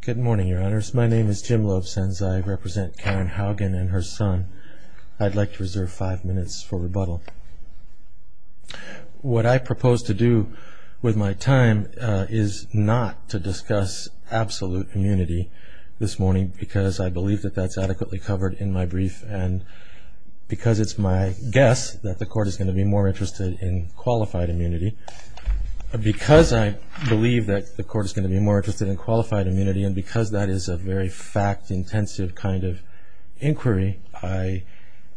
Good morning, Your Honors. My name is Jim Loebsenz. I represent Karen Haugen and her son. I'd like to reserve five minutes for rebuttal. What I propose to do with my time is not to discuss absolute immunity this morning because I believe that that's adequately covered in my brief, and because it's my guess that the Court is going to be more interested in qualified immunity. Because I believe that the Court is going to be more interested in qualified immunity and because that is a very fact-intensive kind of inquiry, I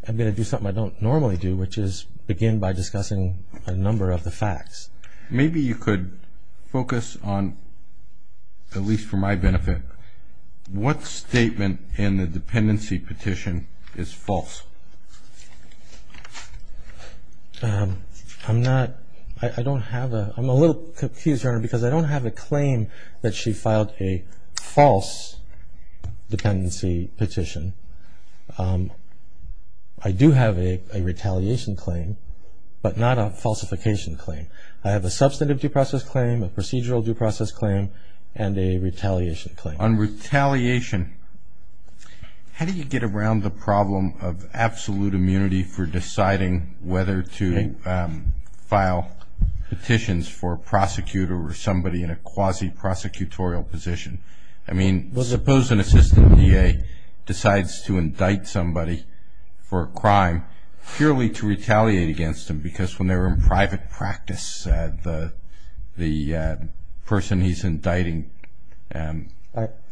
am going to do something I don't normally do, which is begin by discussing a number of the facts. Maybe you could focus on, at least for my benefit, what statement in the dependency petition is false? I'm a little confused, Your Honor, because I don't have a claim that she filed a false dependency petition. I do have a retaliation claim, but not a falsification claim. I have a substantive due process claim, a procedural due process claim, and a retaliation claim. On retaliation, how do you get around the problem of absolute immunity for deciding whether to file petitions for a prosecutor or somebody in a quasi-prosecutorial position? I mean, suppose an assistant DA decides to indict somebody for a crime purely to retaliate against them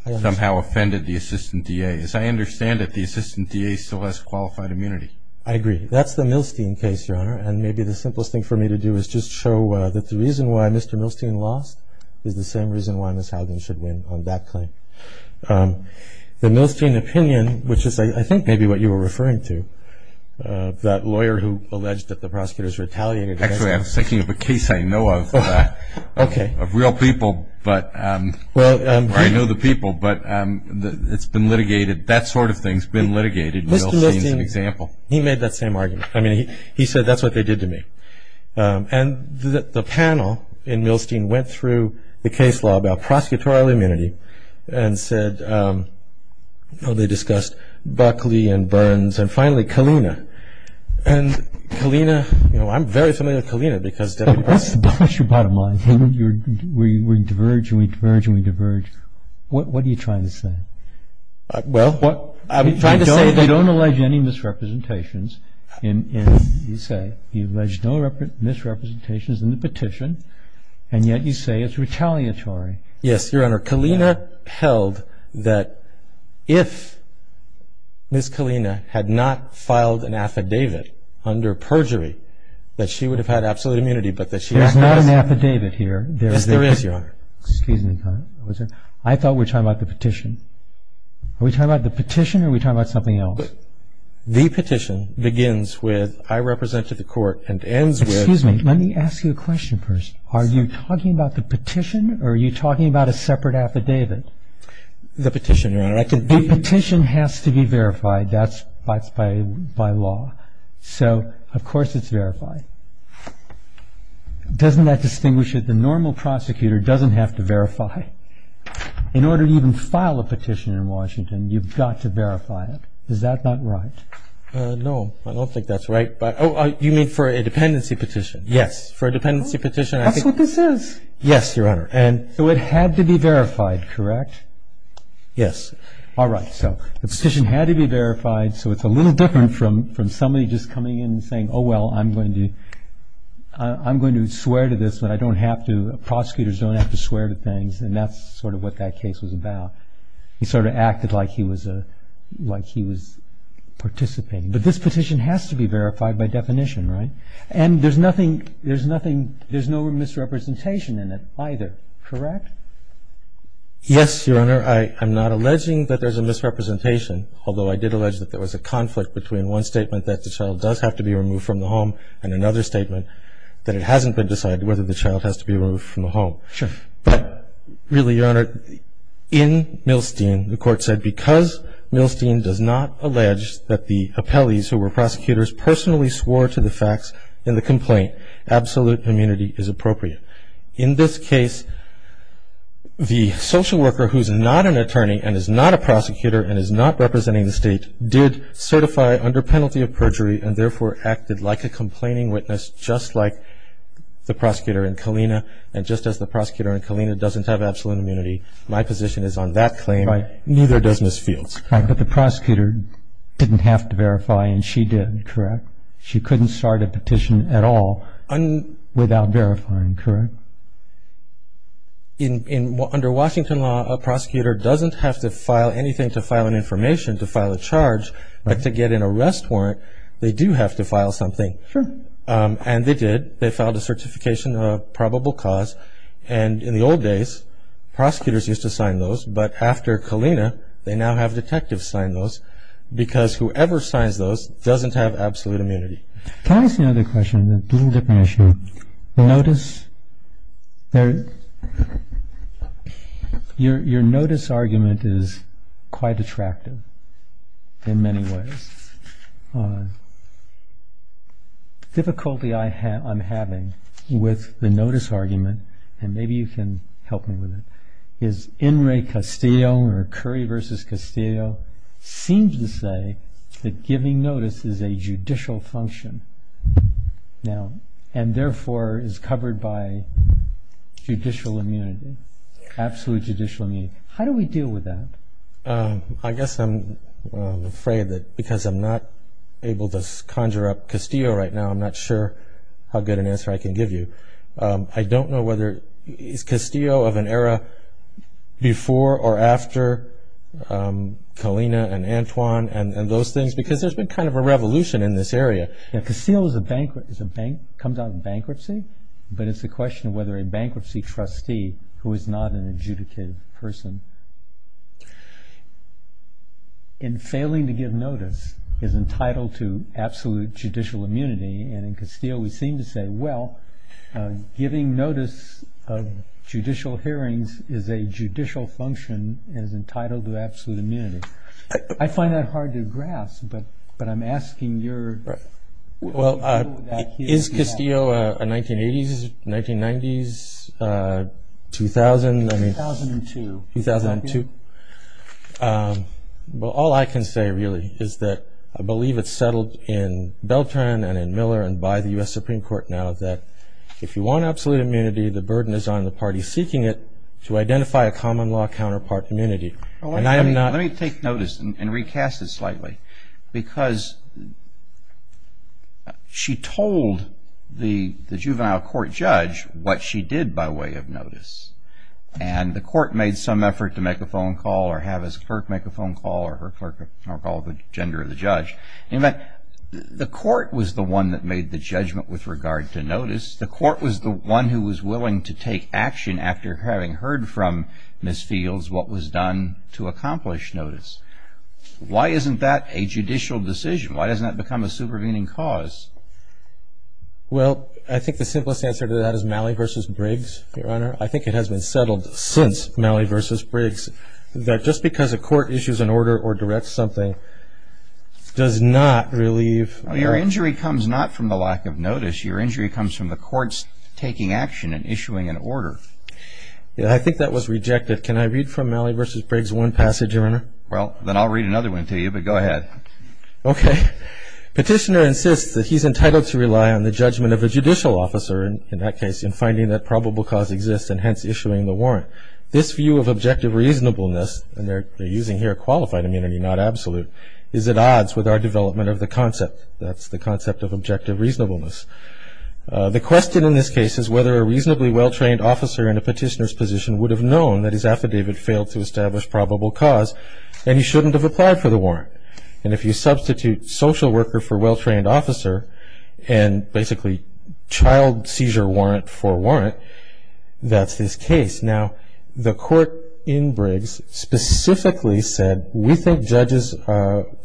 and somehow offended the assistant DA. As I understand it, the assistant DA still has qualified immunity. I agree. That's the Milstein case, Your Honor. And maybe the simplest thing for me to do is just show that the reason why Mr. Milstein lost is the same reason why Ms. Haugen should win on that claim. The Milstein opinion, which is, I think, maybe what you were referring to, I was thinking of a case I know of, of real people, where I know the people, but it's been litigated. That sort of thing's been litigated. Milstein's an example. Mr. Milstein, he made that same argument. I mean, he said, that's what they did to me. And the panel in Milstein went through the case law about prosecutorial immunity and said, oh, they discussed Buckley and Burns and finally Kalina. And Kalina, you know, I'm very familiar with Kalina because- That's your bottom line. We diverge and we diverge and we diverge. What are you trying to say? Well, I'm trying to say that- You don't allege any misrepresentations in the petition, and yet you say it's retaliatory. Yes, Your Honor. Kalina held that if Ms. Kalina had not filed an affidavit under perjury, that she would have had absolute immunity, but that she has- There's not an affidavit here. Yes, there is, Your Honor. Excuse me. I thought we were talking about the petition. Are we talking about the petition or are we talking about something else? The petition begins with, I represent to the court, and ends with- We're talking about a separate affidavit. The petition, Your Honor. The petition has to be verified. That's by law. So, of course, it's verified. Doesn't that distinguish it? The normal prosecutor doesn't have to verify. In order to even file a petition in Washington, you've got to verify it. Is that not right? No, I don't think that's right. Oh, you mean for a dependency petition? Yes. For a dependency petition- That's what this is. Yes, Your Honor. So it had to be verified, correct? Yes. All right. So the petition had to be verified. So it's a little different from somebody just coming in and saying, oh, well, I'm going to swear to this, but prosecutors don't have to swear to things, and that's sort of what that case was about. He sort of acted like he was participating. But this petition has to be verified by definition, right? And there's nothing – there's no misrepresentation in it either, correct? Yes, Your Honor. I'm not alleging that there's a misrepresentation, although I did allege that there was a conflict between one statement, that the child does have to be removed from the home, and another statement that it hasn't been decided whether the child has to be removed from the home. Sure. But really, Your Honor, in Milstein, the Court said because Milstein does not allege that the appellees who were prosecutors personally swore to the facts in the complaint, absolute immunity is appropriate. In this case, the social worker who's not an attorney and is not a prosecutor and is not representing the State did certify under penalty of perjury and therefore acted like a complaining witness just like the prosecutor in Kalina, and just as the prosecutor in Kalina doesn't have absolute immunity, my position is on that claim, neither does Ms. Fields. Right, but the prosecutor didn't have to verify, and she did, correct? She couldn't start a petition at all without verifying, correct? Under Washington law, a prosecutor doesn't have to file anything to file an information, to file a charge, but to get an arrest warrant, they do have to file something. Sure. And they did. They filed a certification of probable cause, and in the old days, prosecutors used to sign those, but after Kalina, they now have detectives sign those because whoever signs those doesn't have absolute immunity. Can I ask another question? This is a different issue. The notice, your notice argument is quite attractive in many ways. Difficulty I'm having with the notice argument, and maybe you can help me with it, is In re Castillo, or Curry versus Castillo, seems to say that giving notice is a judicial function, and therefore is covered by judicial immunity, absolute judicial immunity. How do we deal with that? I guess I'm afraid that because I'm not able to conjure up Castillo right now, I'm not sure how good an answer I can give you. I don't know whether it's Castillo of an era before or after Kalina and Antoine, and those things, because there's been kind of a revolution in this area. Castillo comes out of bankruptcy, but it's a question of whether a bankruptcy trustee, who is not an adjudicated person, in failing to give notice is entitled to absolute judicial immunity, and in Castillo we seem to say, well, giving notice of judicial hearings is a judicial function and is entitled to absolute immunity. I find that hard to grasp, but I'm asking your view on that. Is Castillo a 1980s, 1990s, 2000? 2002. Well, all I can say really is that I believe it's settled in Beltran and in Miller and by the U.S. Supreme Court now that if you want absolute immunity, the burden is on the party seeking it to identify a common law counterpart immunity. Let me take notice and recast it slightly, because she told the juvenile court judge what she did by way of notice, and the court made some effort to make a phone call or have its clerk make a phone call or call the gender of the judge. In fact, the court was the one that made the judgment with regard to notice. The court was the one who was willing to take action after having heard from Ms. Fields what was done to accomplish notice. Why isn't that a judicial decision? Why doesn't that become a supervening cause? Well, I think the simplest answer to that is Malley v. Briggs, Your Honor. I think it has been settled since Malley v. Briggs that just because a court issues an order or directs something does not relieve. Your injury comes not from the lack of notice. Your injury comes from the court's taking action and issuing an order. I think that was rejected. Can I read from Malley v. Briggs one passage, Your Honor? Well, then I'll read another one to you, but go ahead. Okay. Petitioner insists that he's entitled to rely on the judgment of a judicial officer, in that case, in finding that probable cause exists and hence issuing the warrant. This view of objective reasonableness, and they're using here qualified immunity, not absolute, is at odds with our development of the concept. That's the concept of objective reasonableness. The question in this case is whether a reasonably well-trained officer in a petitioner's position would have known that his affidavit failed to establish probable cause and he shouldn't have applied for the warrant. And if you substitute social worker for well-trained officer and basically child seizure warrant for warrant, that's his case. Now, the court in Briggs specifically said, we think judges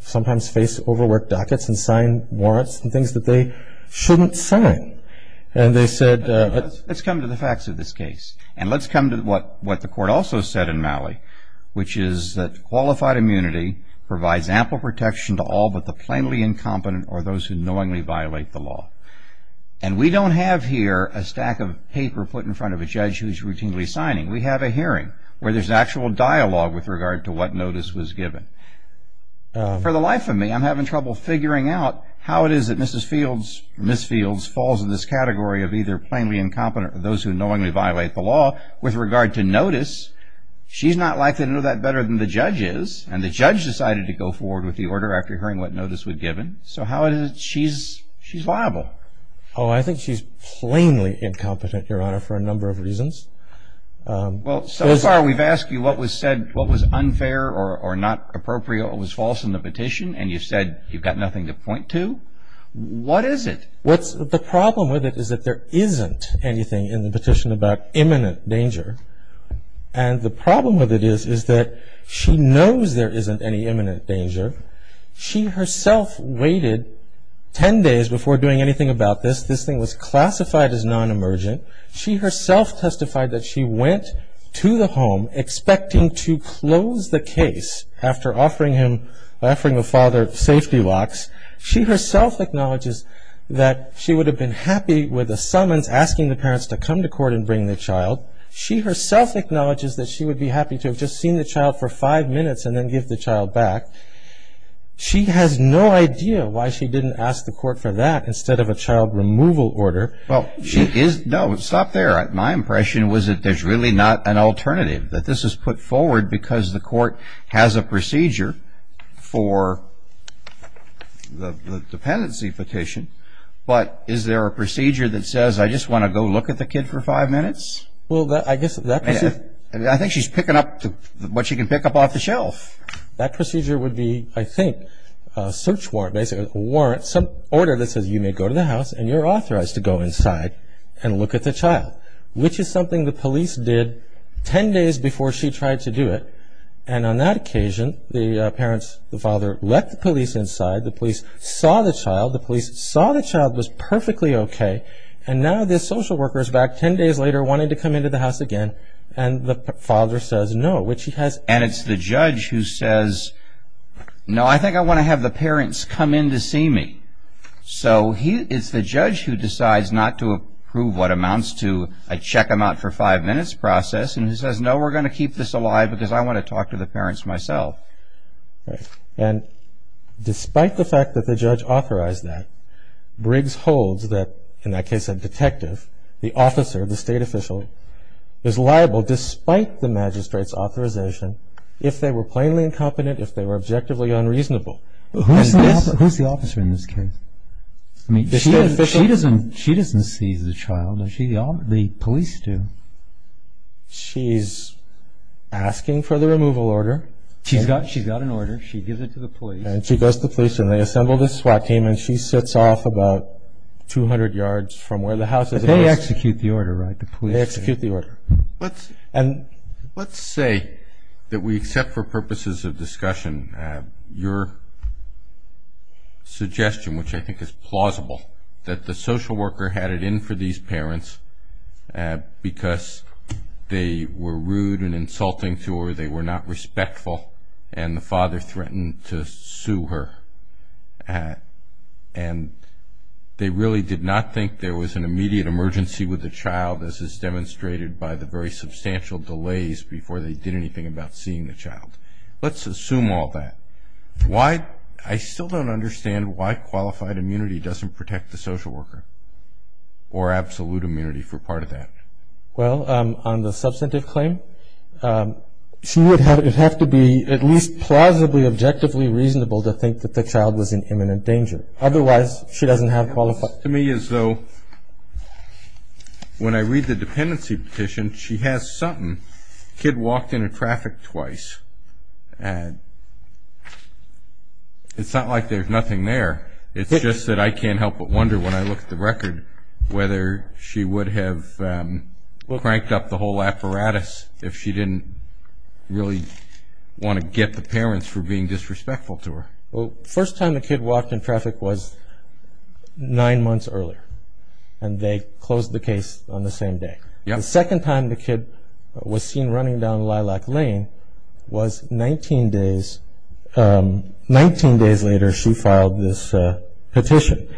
sometimes face overworked dockets and sign warrants and things that they shouldn't sign. And they said... Let's come to the facts of this case. And let's come to what the court also said in Malley, which is that qualified immunity provides ample protection to all but the plainly incompetent or those who knowingly violate the law. And we don't have here a stack of paper put in front of a judge who's routinely signing. We have a hearing where there's actual dialogue with regard to what notice was given. For the life of me, I'm having trouble figuring out how it is that Mrs. Fields, Ms. Fields falls in this category of either plainly incompetent or those who knowingly violate the law with regard to notice. She's not likely to know that better than the judge is. And the judge decided to go forward with the order after hearing what notice was given. So how is it that she's liable? Oh, I think she's plainly incompetent, Your Honor, for a number of reasons. Well, so far we've asked you what was said, what was unfair or not appropriate or was false in the petition, and you've said you've got nothing to point to. What is it? The problem with it is that there isn't anything in the petition about imminent danger. And the problem with it is that she knows there isn't any imminent danger. She herself waited ten days before doing anything about this. This thing was classified as non-emergent. She herself testified that she went to the home expecting to close the case after offering the father safety locks. She herself acknowledges that she would have been happy with a summons asking the parents to come to court and bring the child. She herself acknowledges that she would be happy to have just seen the child for five minutes and then give the child back. She has no idea why she didn't ask the court for that instead of a child removal order. Well, she is – no, stop there. My impression was that there's really not an alternative, that this was put forward because the court has a procedure for the dependency petition. But is there a procedure that says, I just want to go look at the kid for five minutes? Well, I guess that – I think she's picking up what she can pick up off the shelf. That procedure would be, I think, a search warrant, basically a warrant, some order that says you may go to the house and you're authorized to go inside and look at the child, which is something the police did ten days before she tried to do it. And on that occasion, the parents, the father, let the police inside. The police saw the child. The police saw the child was perfectly okay. And now the social worker is back ten days later wanting to come into the house again, and the father says no, which he has – And it's the judge who says, no, I think I want to have the parents come in to see me. So it's the judge who decides not to approve what amounts to a check-them-out-for-five-minutes process and who says, no, we're going to keep this alive because I want to talk to the parents myself. And despite the fact that the judge authorized that, Briggs holds that, in that case, a detective, the officer, the state official, is liable despite the magistrate's authorization if they were plainly incompetent, if they were objectively unreasonable. Who's the officer in this case? She doesn't seize the child. The police do. She's asking for the removal order. She's got an order. She gives it to the police. And she does to the police, and they assemble this SWAT team, and she sits off about 200 yards from where the house is. But they execute the order, right, the police? They execute the order. Let's say that we accept for purposes of discussion your suggestion, which I think is plausible, that the social worker had it in for these parents because they were rude and insulting to her, they were not respectful, and the father threatened to sue her. And they really did not think there was an immediate emergency with the child, as is demonstrated by the very substantial delays before they did anything about seeing the child. Let's assume all that. I still don't understand why qualified immunity doesn't protect the social worker or absolute immunity for part of that. Well, on the substantive claim, it would have to be at least plausibly, objectively reasonable to think that the child was in imminent danger. Otherwise, she doesn't have qualified immunity. It seems to me as though when I read the dependency petition, she has something. The kid walked into traffic twice. It's not like there's nothing there. It's just that I can't help but wonder when I look at the record whether she would have cranked up the whole apparatus if she didn't really want to get the parents for being disrespectful to her. Well, the first time the kid walked in traffic was nine months earlier, and they closed the case on the same day. The second time the kid was seen running down Lilac Lane was 19 days. Nineteen days later, she filed this petition.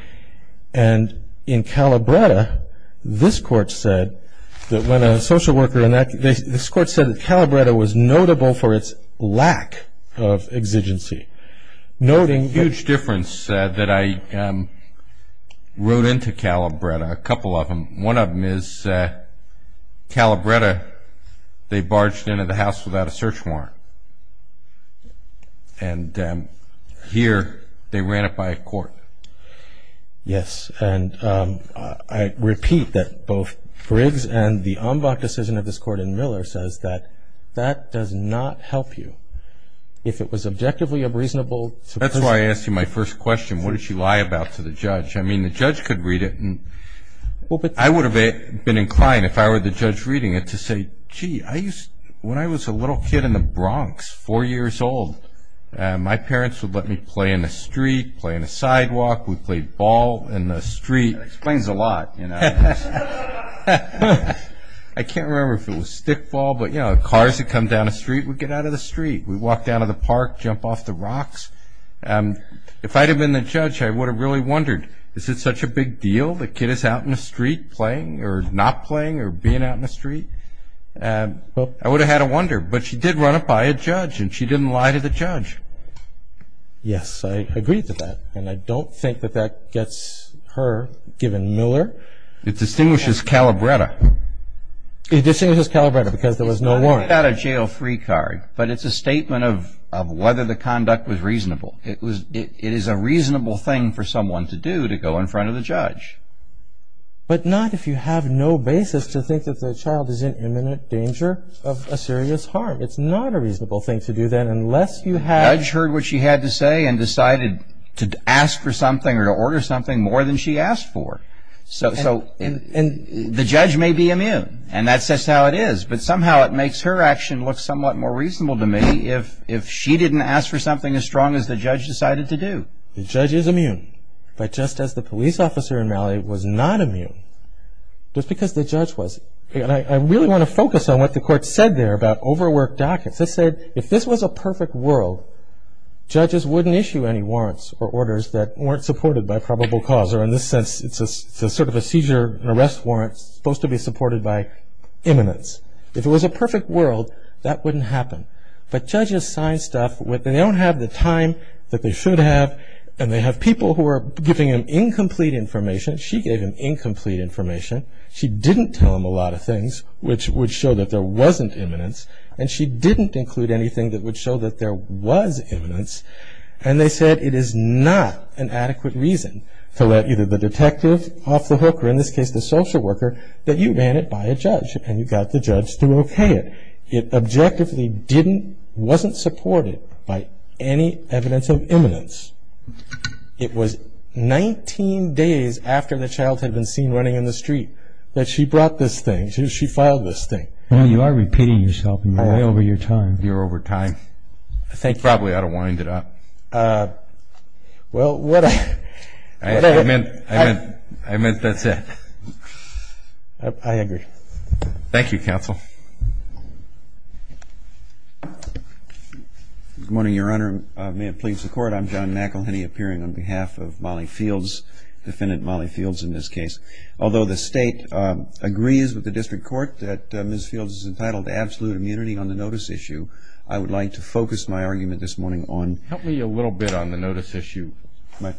And in Calabretta, this court said that when a social worker enacted this, this court said that Calabretta was notable for its lack of exigency. A huge difference that I wrote into Calabretta, a couple of them. One of them is Calabretta, they barged into the house without a search warrant. And here, they ran it by a court. Yes, and I repeat that both Frigg's and the Ombach decision of this court in Miller says that that does not help you. If it was objectively a reasonable supposition. That's why I asked you my first question, what did she lie about to the judge? I mean, the judge could read it. I would have been inclined if I were the judge reading it to say, gee, when I was a little kid in the Bronx, four years old, my parents would let me play in the street, play on the sidewalk. We played ball in the street. That explains a lot. I can't remember if it was stickball, but, you know, cars that come down the street, we'd get out of the street. We'd walk down to the park, jump off the rocks. If I'd have been the judge, I would have really wondered, is it such a big deal? The kid is out in the street playing or not playing or being out in the street. I would have had to wonder. But she did run it by a judge, and she didn't lie to the judge. Yes, I agree to that. And I don't think that that gets her given Miller. It distinguishes Calabretta. It distinguishes Calabretta because there was no warrant. It's not a jail-free card, but it's a statement of whether the conduct was reasonable. It is a reasonable thing for someone to do, to go in front of the judge. But not if you have no basis to think that the child is in imminent danger of a serious harm. It's not a reasonable thing to do, then, unless you have ---- The judge heard what she had to say and decided to ask for something or to order something more than she asked for. So the judge may be immune, and that's just how it is. But somehow it makes her action look somewhat more reasonable to me if she didn't ask for something as strong as the judge decided to do. The judge is immune. But just as the police officer in Raleigh was not immune, just because the judge was. And I really want to focus on what the court said there about overworked dockets. It said if this was a perfect world, judges wouldn't issue any warrants or orders that weren't supported by probable cause. Or in this sense, it's sort of a seizure, an arrest warrant, supposed to be supported by imminence. If it was a perfect world, that wouldn't happen. But judges sign stuff when they don't have the time that they should have. And they have people who are giving them incomplete information. She gave him incomplete information. She didn't tell him a lot of things, which would show that there wasn't imminence. And she didn't include anything that would show that there was imminence. And they said it is not an adequate reason to let either the detective off the hook or, in this case, the social worker, that you ban it by a judge. And you've got the judge to okay it. It objectively wasn't supported by any evidence of imminence. It was 19 days after the child had been seen running in the street that she brought this thing. She filed this thing. You are repeating yourself. You're way over your time. You're over time. I think probably I ought to wind it up. Well, what I meant, I meant that's it. I agree. Thank you, counsel. Good morning, Your Honor. May it please the Court. I'm John McElhinney, appearing on behalf of Molly Fields, defendant Molly Fields in this case. Although the state agrees with the district court that Ms. Fields is entitled to absolute immunity on the notice issue, I would like to focus my argument this morning on. Help me a little bit on the notice issue. When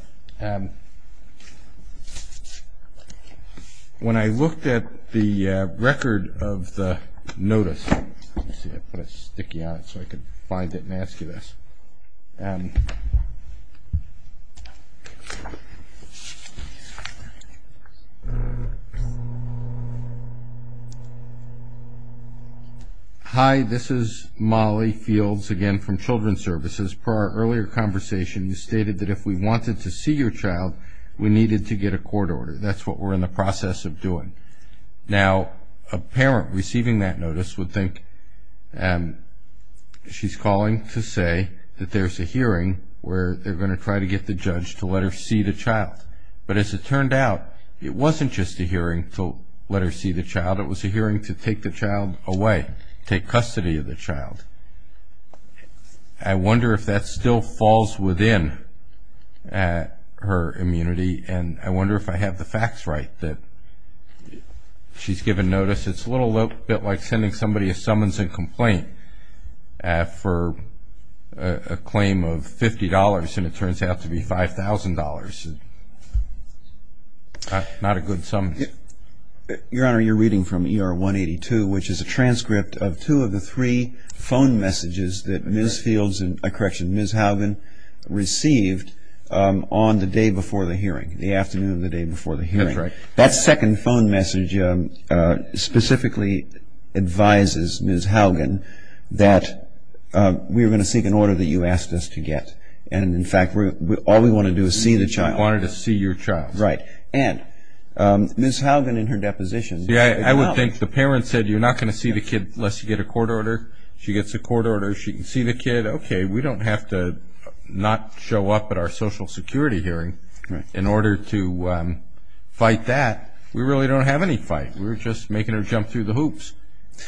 I looked at the record of the notice, let's see, I put a sticky on it so I could find it and ask you this. Hi, this is Molly Fields again from Children's Services. Per our earlier conversation, you stated that if we wanted to see your child, we needed to get a court order. That's what we're in the process of doing. Now, a parent receiving that notice would think she's calling to say that there's a hearing where they're going to try to get the judge to let her see the child. But as it turned out, it wasn't just a hearing to let her see the child. It was a hearing to take the child away, take custody of the child. I wonder if that still falls within her immunity, and I wonder if I have the facts right that she's given notice. It's a little bit like sending somebody a summons and complaint for a claim of $50, and it turns out to be $5,000. Not a good sum. Your Honor, you're reading from ER 182, which is a transcript of two of the three phone messages that Ms. Fields, correction, Ms. Haugen received on the day before the hearing, the afternoon of the day before the hearing. That's right. That second phone message specifically advises Ms. Haugen that we're going to seek an order that you asked us to get. And, in fact, all we want to do is see the child. We wanted to see your child. Right. And Ms. Haugen, in her deposition, I would think the parents said you're not going to see the kid unless you get a court order. She gets a court order. She can see the kid. Okay. We don't have to not show up at our Social Security hearing in order to fight that. We really don't have any fight. We're just making her jump through the hoops.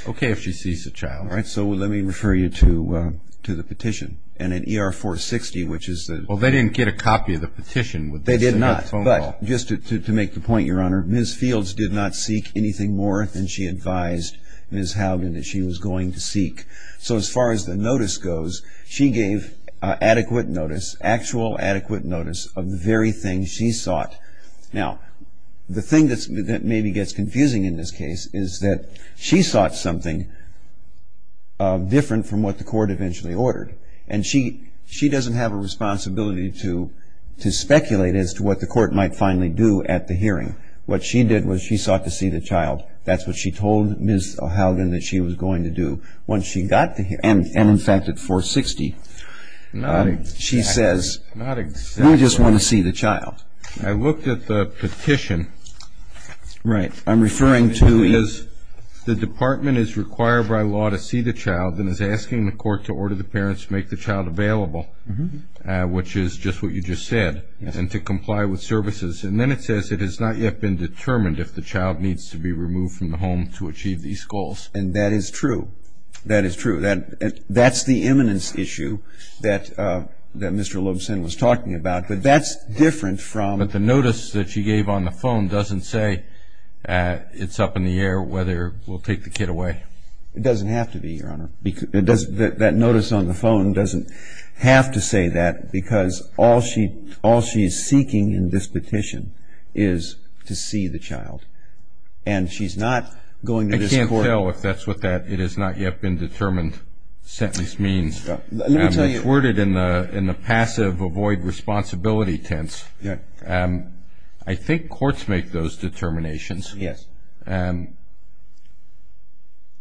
Okay if she sees the child. All right. So let me refer you to the petition. And in ER 460, which is the Well, they didn't get a copy of the petition. They did not. But just to make the point, Your Honor, Ms. Fields did not seek anything more than she advised Ms. Haugen that she was going to seek. So as far as the notice goes, she gave adequate notice, actual adequate notice of the very thing she sought. Now, the thing that maybe gets confusing in this case is that she sought something different from what the court eventually ordered. And she doesn't have a responsibility to speculate as to what the court might finally do at the hearing. What she did was she sought to see the child. That's what she told Ms. Haugen that she was going to do. Once she got the hearing, and in fact at 460, she says, we just want to see the child. I looked at the petition. Right. I'm referring to The department is required by law to see the child and is asking the court to order the parents to make the child available, which is just what you just said, and to comply with services. And then it says it has not yet been determined if the child needs to be removed from the home to achieve these goals. And that is true. That is true. That's the eminence issue that Mr. Lobson was talking about. But that's different from But the notice that she gave on the phone doesn't say it's up in the air whether we'll take the kid away. It doesn't have to be, Your Honor. That notice on the phone doesn't have to say that because all she's seeking in this petition is to see the child. And she's not going to this court. I can't tell if that's what that it has not yet been determined sentence means. It's worded in the passive avoid responsibility tense. I think courts make those determinations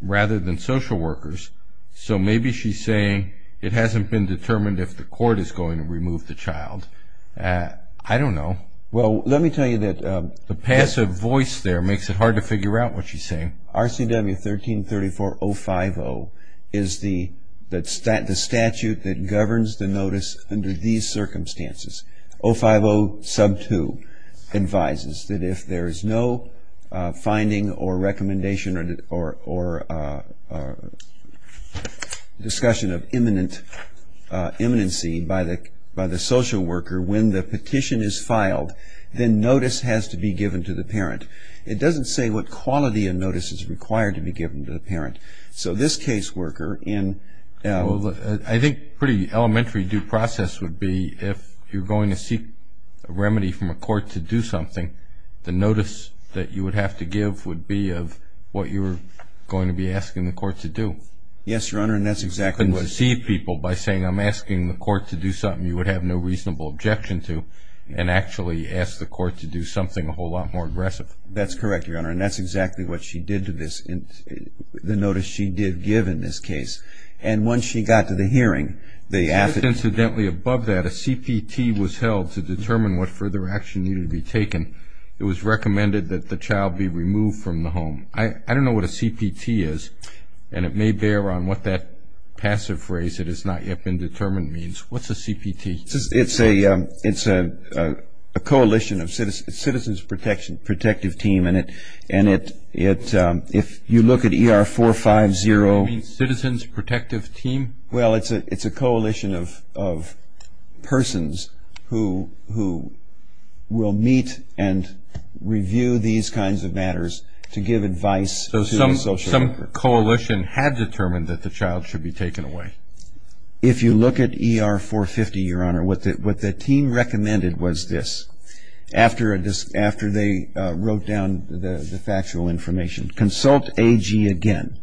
rather than social workers. So maybe she's saying it hasn't been determined if the court is going to remove the child. I don't know. Well, let me tell you that The passive voice there makes it hard to figure out what she's saying. RCW 1334-050 is the statute that governs the notice under these circumstances. 050 sub 2 advises that if there is no finding or recommendation or discussion of imminency by the social worker when the petition is filed, then notice has to be given to the parent. It doesn't say what quality of notice is required to be given to the parent. So this caseworker in I think pretty elementary due process would be if you're going to seek a remedy from a court to do something, the notice that you would have to give would be of what you're going to be asking the court to do. Yes, Your Honor, and that's exactly what it is. You couldn't deceive people by saying I'm asking the court to do something you would have no reasonable objection to and actually ask the court to do something a whole lot more aggressive. That's correct, Your Honor, and that's exactly what she did to this, the notice she did give in this case. And once she got to the hearing, they asked Incidentally, above that, a CPT was held to determine what further action needed to be taken. It was recommended that the child be removed from the home. I don't know what a CPT is, and it may bear on what that passive phrase that has not yet been determined means. What's a CPT? It's a coalition of citizens' protective team, and if you look at ER 450 You mean citizens' protective team? Well, it's a coalition of persons who will meet and review these kinds of matters to give advice to the social worker. So some coalition had determined that the child should be taken away. If you look at ER 450, Your Honor, what the team recommended was this. After they wrote down the factual information, consult AG again.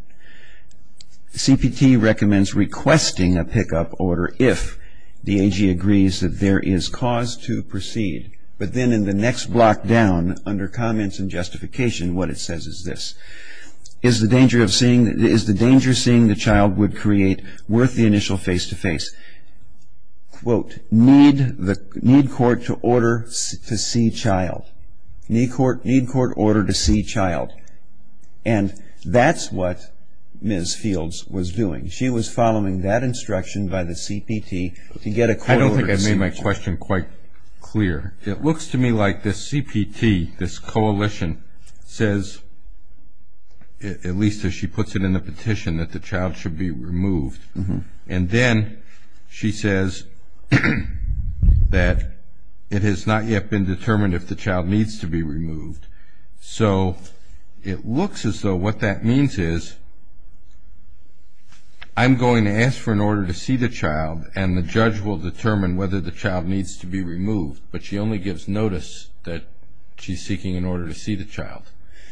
CPT recommends requesting a pickup order if the AG agrees that there is cause to proceed. But then in the next block down, under Comments and Justification, what it says is this. It is the danger seeing the child would create worth the initial face-to-face. Quote, need court to order to see child. Need court order to see child. And that's what Ms. Fields was doing. She was following that instruction by the CPT to get a court order to see child. I don't think I made my question quite clear. It looks to me like the CPT, this coalition, says, at least as she puts it in the petition, that the child should be removed. And then she says that it has not yet been determined if the child needs to be removed. So it looks as though what that means is I'm going to ask for an order to see the child and the judge will determine whether the child needs to be removed, but she only gives notice that she's seeking an order to see the child.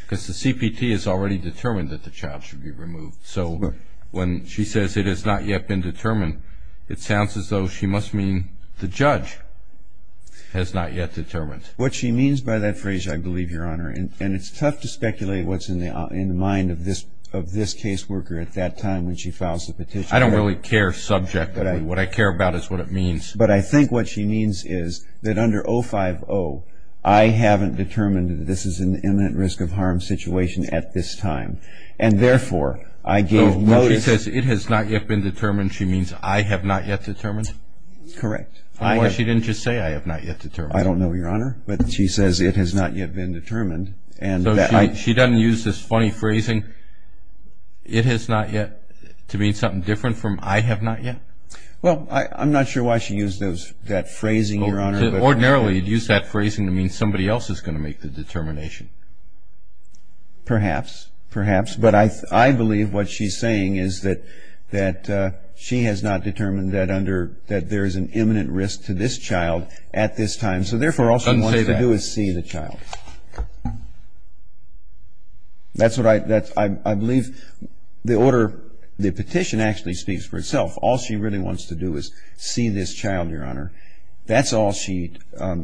Because the CPT has already determined that the child should be removed. So when she says it has not yet been determined, it sounds as though she must mean the judge has not yet determined. What she means by that phrase, I believe, Your Honor, and it's tough to speculate what's in the mind of this caseworker at that time when she files the petition. I don't really care subjectively. What I care about is what it means. But I think what she means is that under 050, I haven't determined that this is an imminent risk of harm situation at this time, and therefore I gave notice. So when she says it has not yet been determined, she means I have not yet determined? Correct. Or she didn't just say I have not yet determined? So she doesn't use this funny phrasing, it has not yet, to mean something different from I have not yet? Well, I'm not sure why she used that phrasing, Your Honor. Ordinarily you'd use that phrasing to mean somebody else is going to make the determination. Perhaps, perhaps. But I believe what she's saying is that she has not determined that there is an imminent risk to this child at this time, and so therefore all she wants to do is see the child. That's what I believe the order, the petition actually speaks for itself. All she really wants to do is see this child, Your Honor. That's all she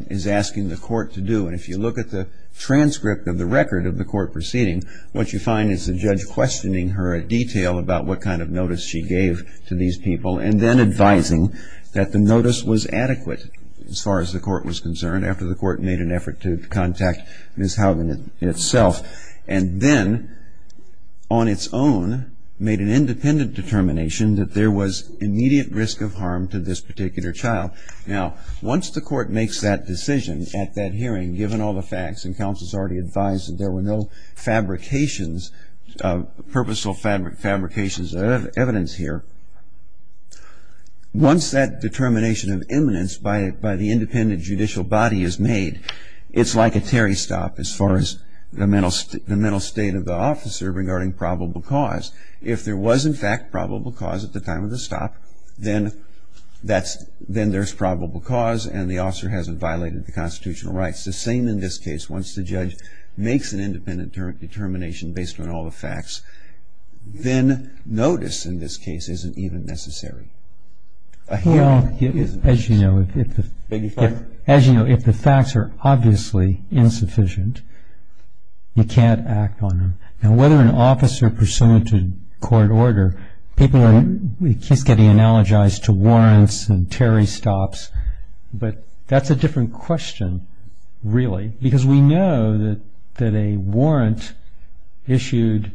is asking the court to do. And if you look at the transcript of the record of the court proceeding, what you find is the judge questioning her in detail about what kind of notice she gave to these people and then advising that the notice was adequate as far as the court was concerned after the court made an effort to contact Ms. Haugen itself, and then on its own made an independent determination that there was immediate risk of harm to this particular child. Now, once the court makes that decision at that hearing, given all the facts, and counsel has already advised that there were no fabrications, purposeful fabrications of evidence here, once that determination of imminence by the independent judicial body is made, it's like a Terry stop as far as the mental state of the officer regarding probable cause. If there was, in fact, probable cause at the time of the stop, then there's probable cause and the officer hasn't violated the constitutional rights. The same in this case. Once the judge makes an independent determination based on all the facts, then notice in this case isn't even necessary. As you know, if the facts are obviously insufficient, you can't act on them. Now, whether an officer pursuant to court order, people are getting analogized to warrants and Terry stops, but that's a different question, really. Because we know that a warrant issued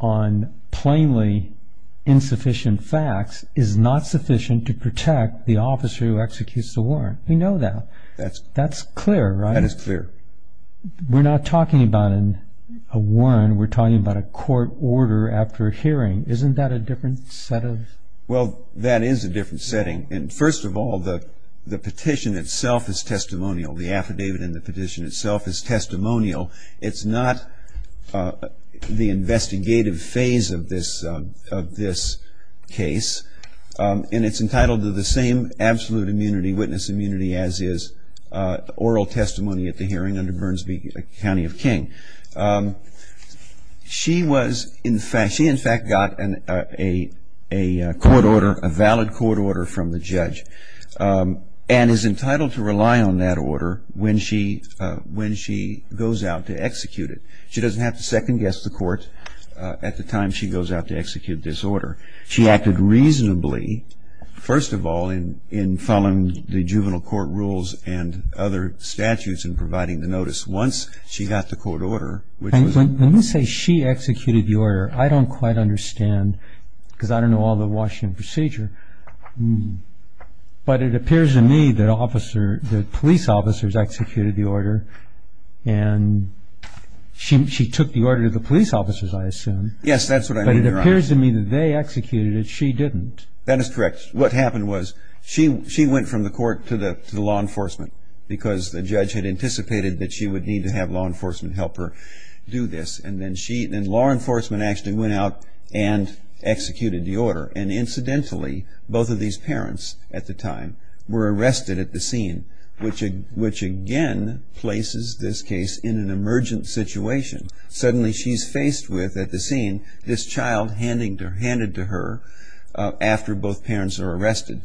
on plainly insufficient facts is not sufficient to protect the officer who executes the warrant. We know that. That's clear, right? That is clear. We're not talking about a warrant. We're talking about a court order after a hearing. Isn't that a different set of... Well, that is a different setting. And first of all, the petition itself is testimonial. The affidavit in the petition itself is testimonial. It's not the investigative phase of this case. And it's entitled to the same absolute immunity, witness immunity, as is oral testimony at the hearing under Burns v. County of King. She in fact got a court order, a valid court order from the judge and is entitled to rely on that order when she goes out to execute it. She doesn't have to second-guess the court at the time she goes out to execute this order. She acted reasonably, first of all, in following the juvenile court rules and other statutes in providing the notice. Once she got the court order, which was... When you say she executed the order, I don't quite understand because I don't know all the Washington procedure. But it appears to me that police officers executed the order and she took the order to the police officers, I assume. Yes, that's what I mean, Your Honor. But it appears to me that they executed it. She didn't. That is correct. What happened was she went from the court to the law enforcement because the judge had anticipated that she would need to have law enforcement help her do this. And then law enforcement actually went out and executed the order. And incidentally, both of these parents at the time were arrested at the scene, which again places this case in an emergent situation. Suddenly she's faced with, at the scene, this child handed to her after both parents are arrested.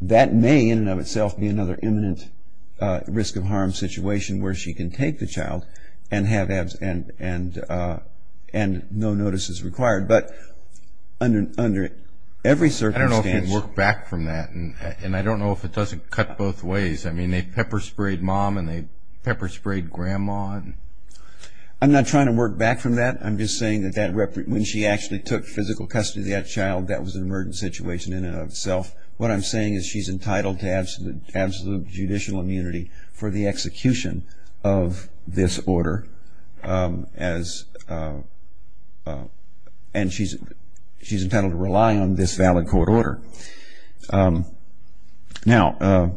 That may, in and of itself, be another imminent risk of harm situation where she can take the child and no notice is required. But under every circumstance... I don't know if we can work back from that. And I don't know if it doesn't cut both ways. I mean, they pepper sprayed mom and they pepper sprayed grandma. I'm not trying to work back from that. I'm just saying that when she actually took physical custody of that child, that was an emergent situation in and of itself. What I'm saying is she's entitled to absolute judicial immunity for the execution of this order. And she's entitled to rely on this valid court order. Now,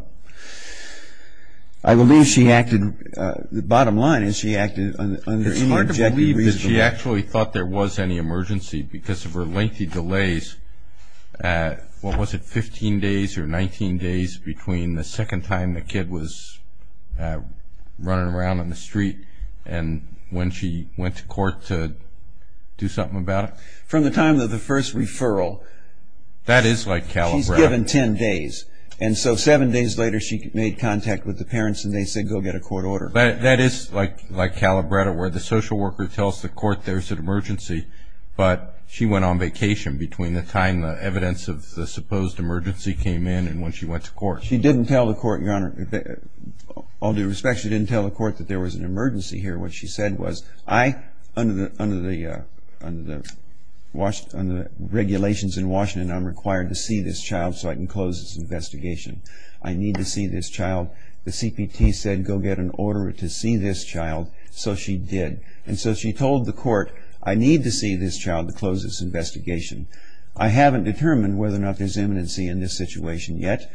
I believe she acted, the bottom line is she acted under any objective reason. She actually thought there was any emergency because of her lengthy delays. What was it, 15 days or 19 days between the second time the kid was running around on the street and when she went to court to do something about it? From the time of the first referral. That is like Calabretta. She's given 10 days. And so seven days later she made contact with the parents and they said go get a court order. That is like Calabretta where the social worker tells the court there's an emergency, but she went on vacation between the time the evidence of the supposed emergency came in and when she went to court. She didn't tell the court, Your Honor, all due respect, she didn't tell the court that there was an emergency here. What she said was, I, under the regulations in Washington, I'm required to see this child so I can close this investigation. I need to see this child. The CPT said go get an order to see this child. So she did. And so she told the court, I need to see this child to close this investigation. I haven't determined whether or not there's immanency in this situation yet.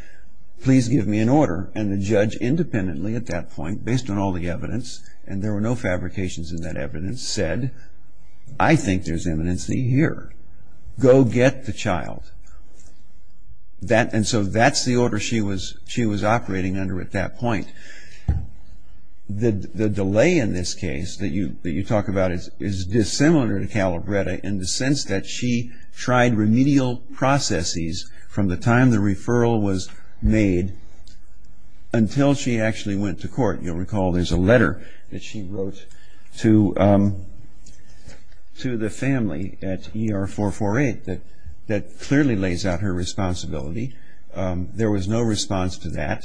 Please give me an order. And the judge independently at that point, based on all the evidence, and there were no fabrications in that evidence, said, I think there's immanency here. Go get the child. And so that's the order she was operating under at that point. The delay in this case that you talk about is dissimilar to Calabretta in the sense that she tried remedial processes from the time the referral was made until she actually went to court. You'll recall there's a letter that she wrote to the family at ER 448 that clearly lays out her responsibility. There was no response to that.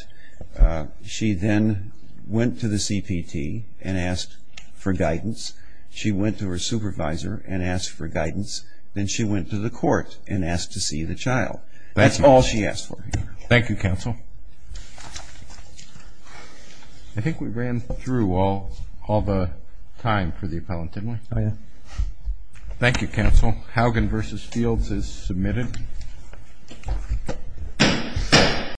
She then went to the CPT and asked for guidance. She went to her supervisor and asked for guidance. Then she went to the court and asked to see the child. That's all she asked for. Thank you, counsel. I think we ran through all the time for the appellant, didn't we? Oh, yeah. Thank you, counsel. Hougan v. Fields is submitted.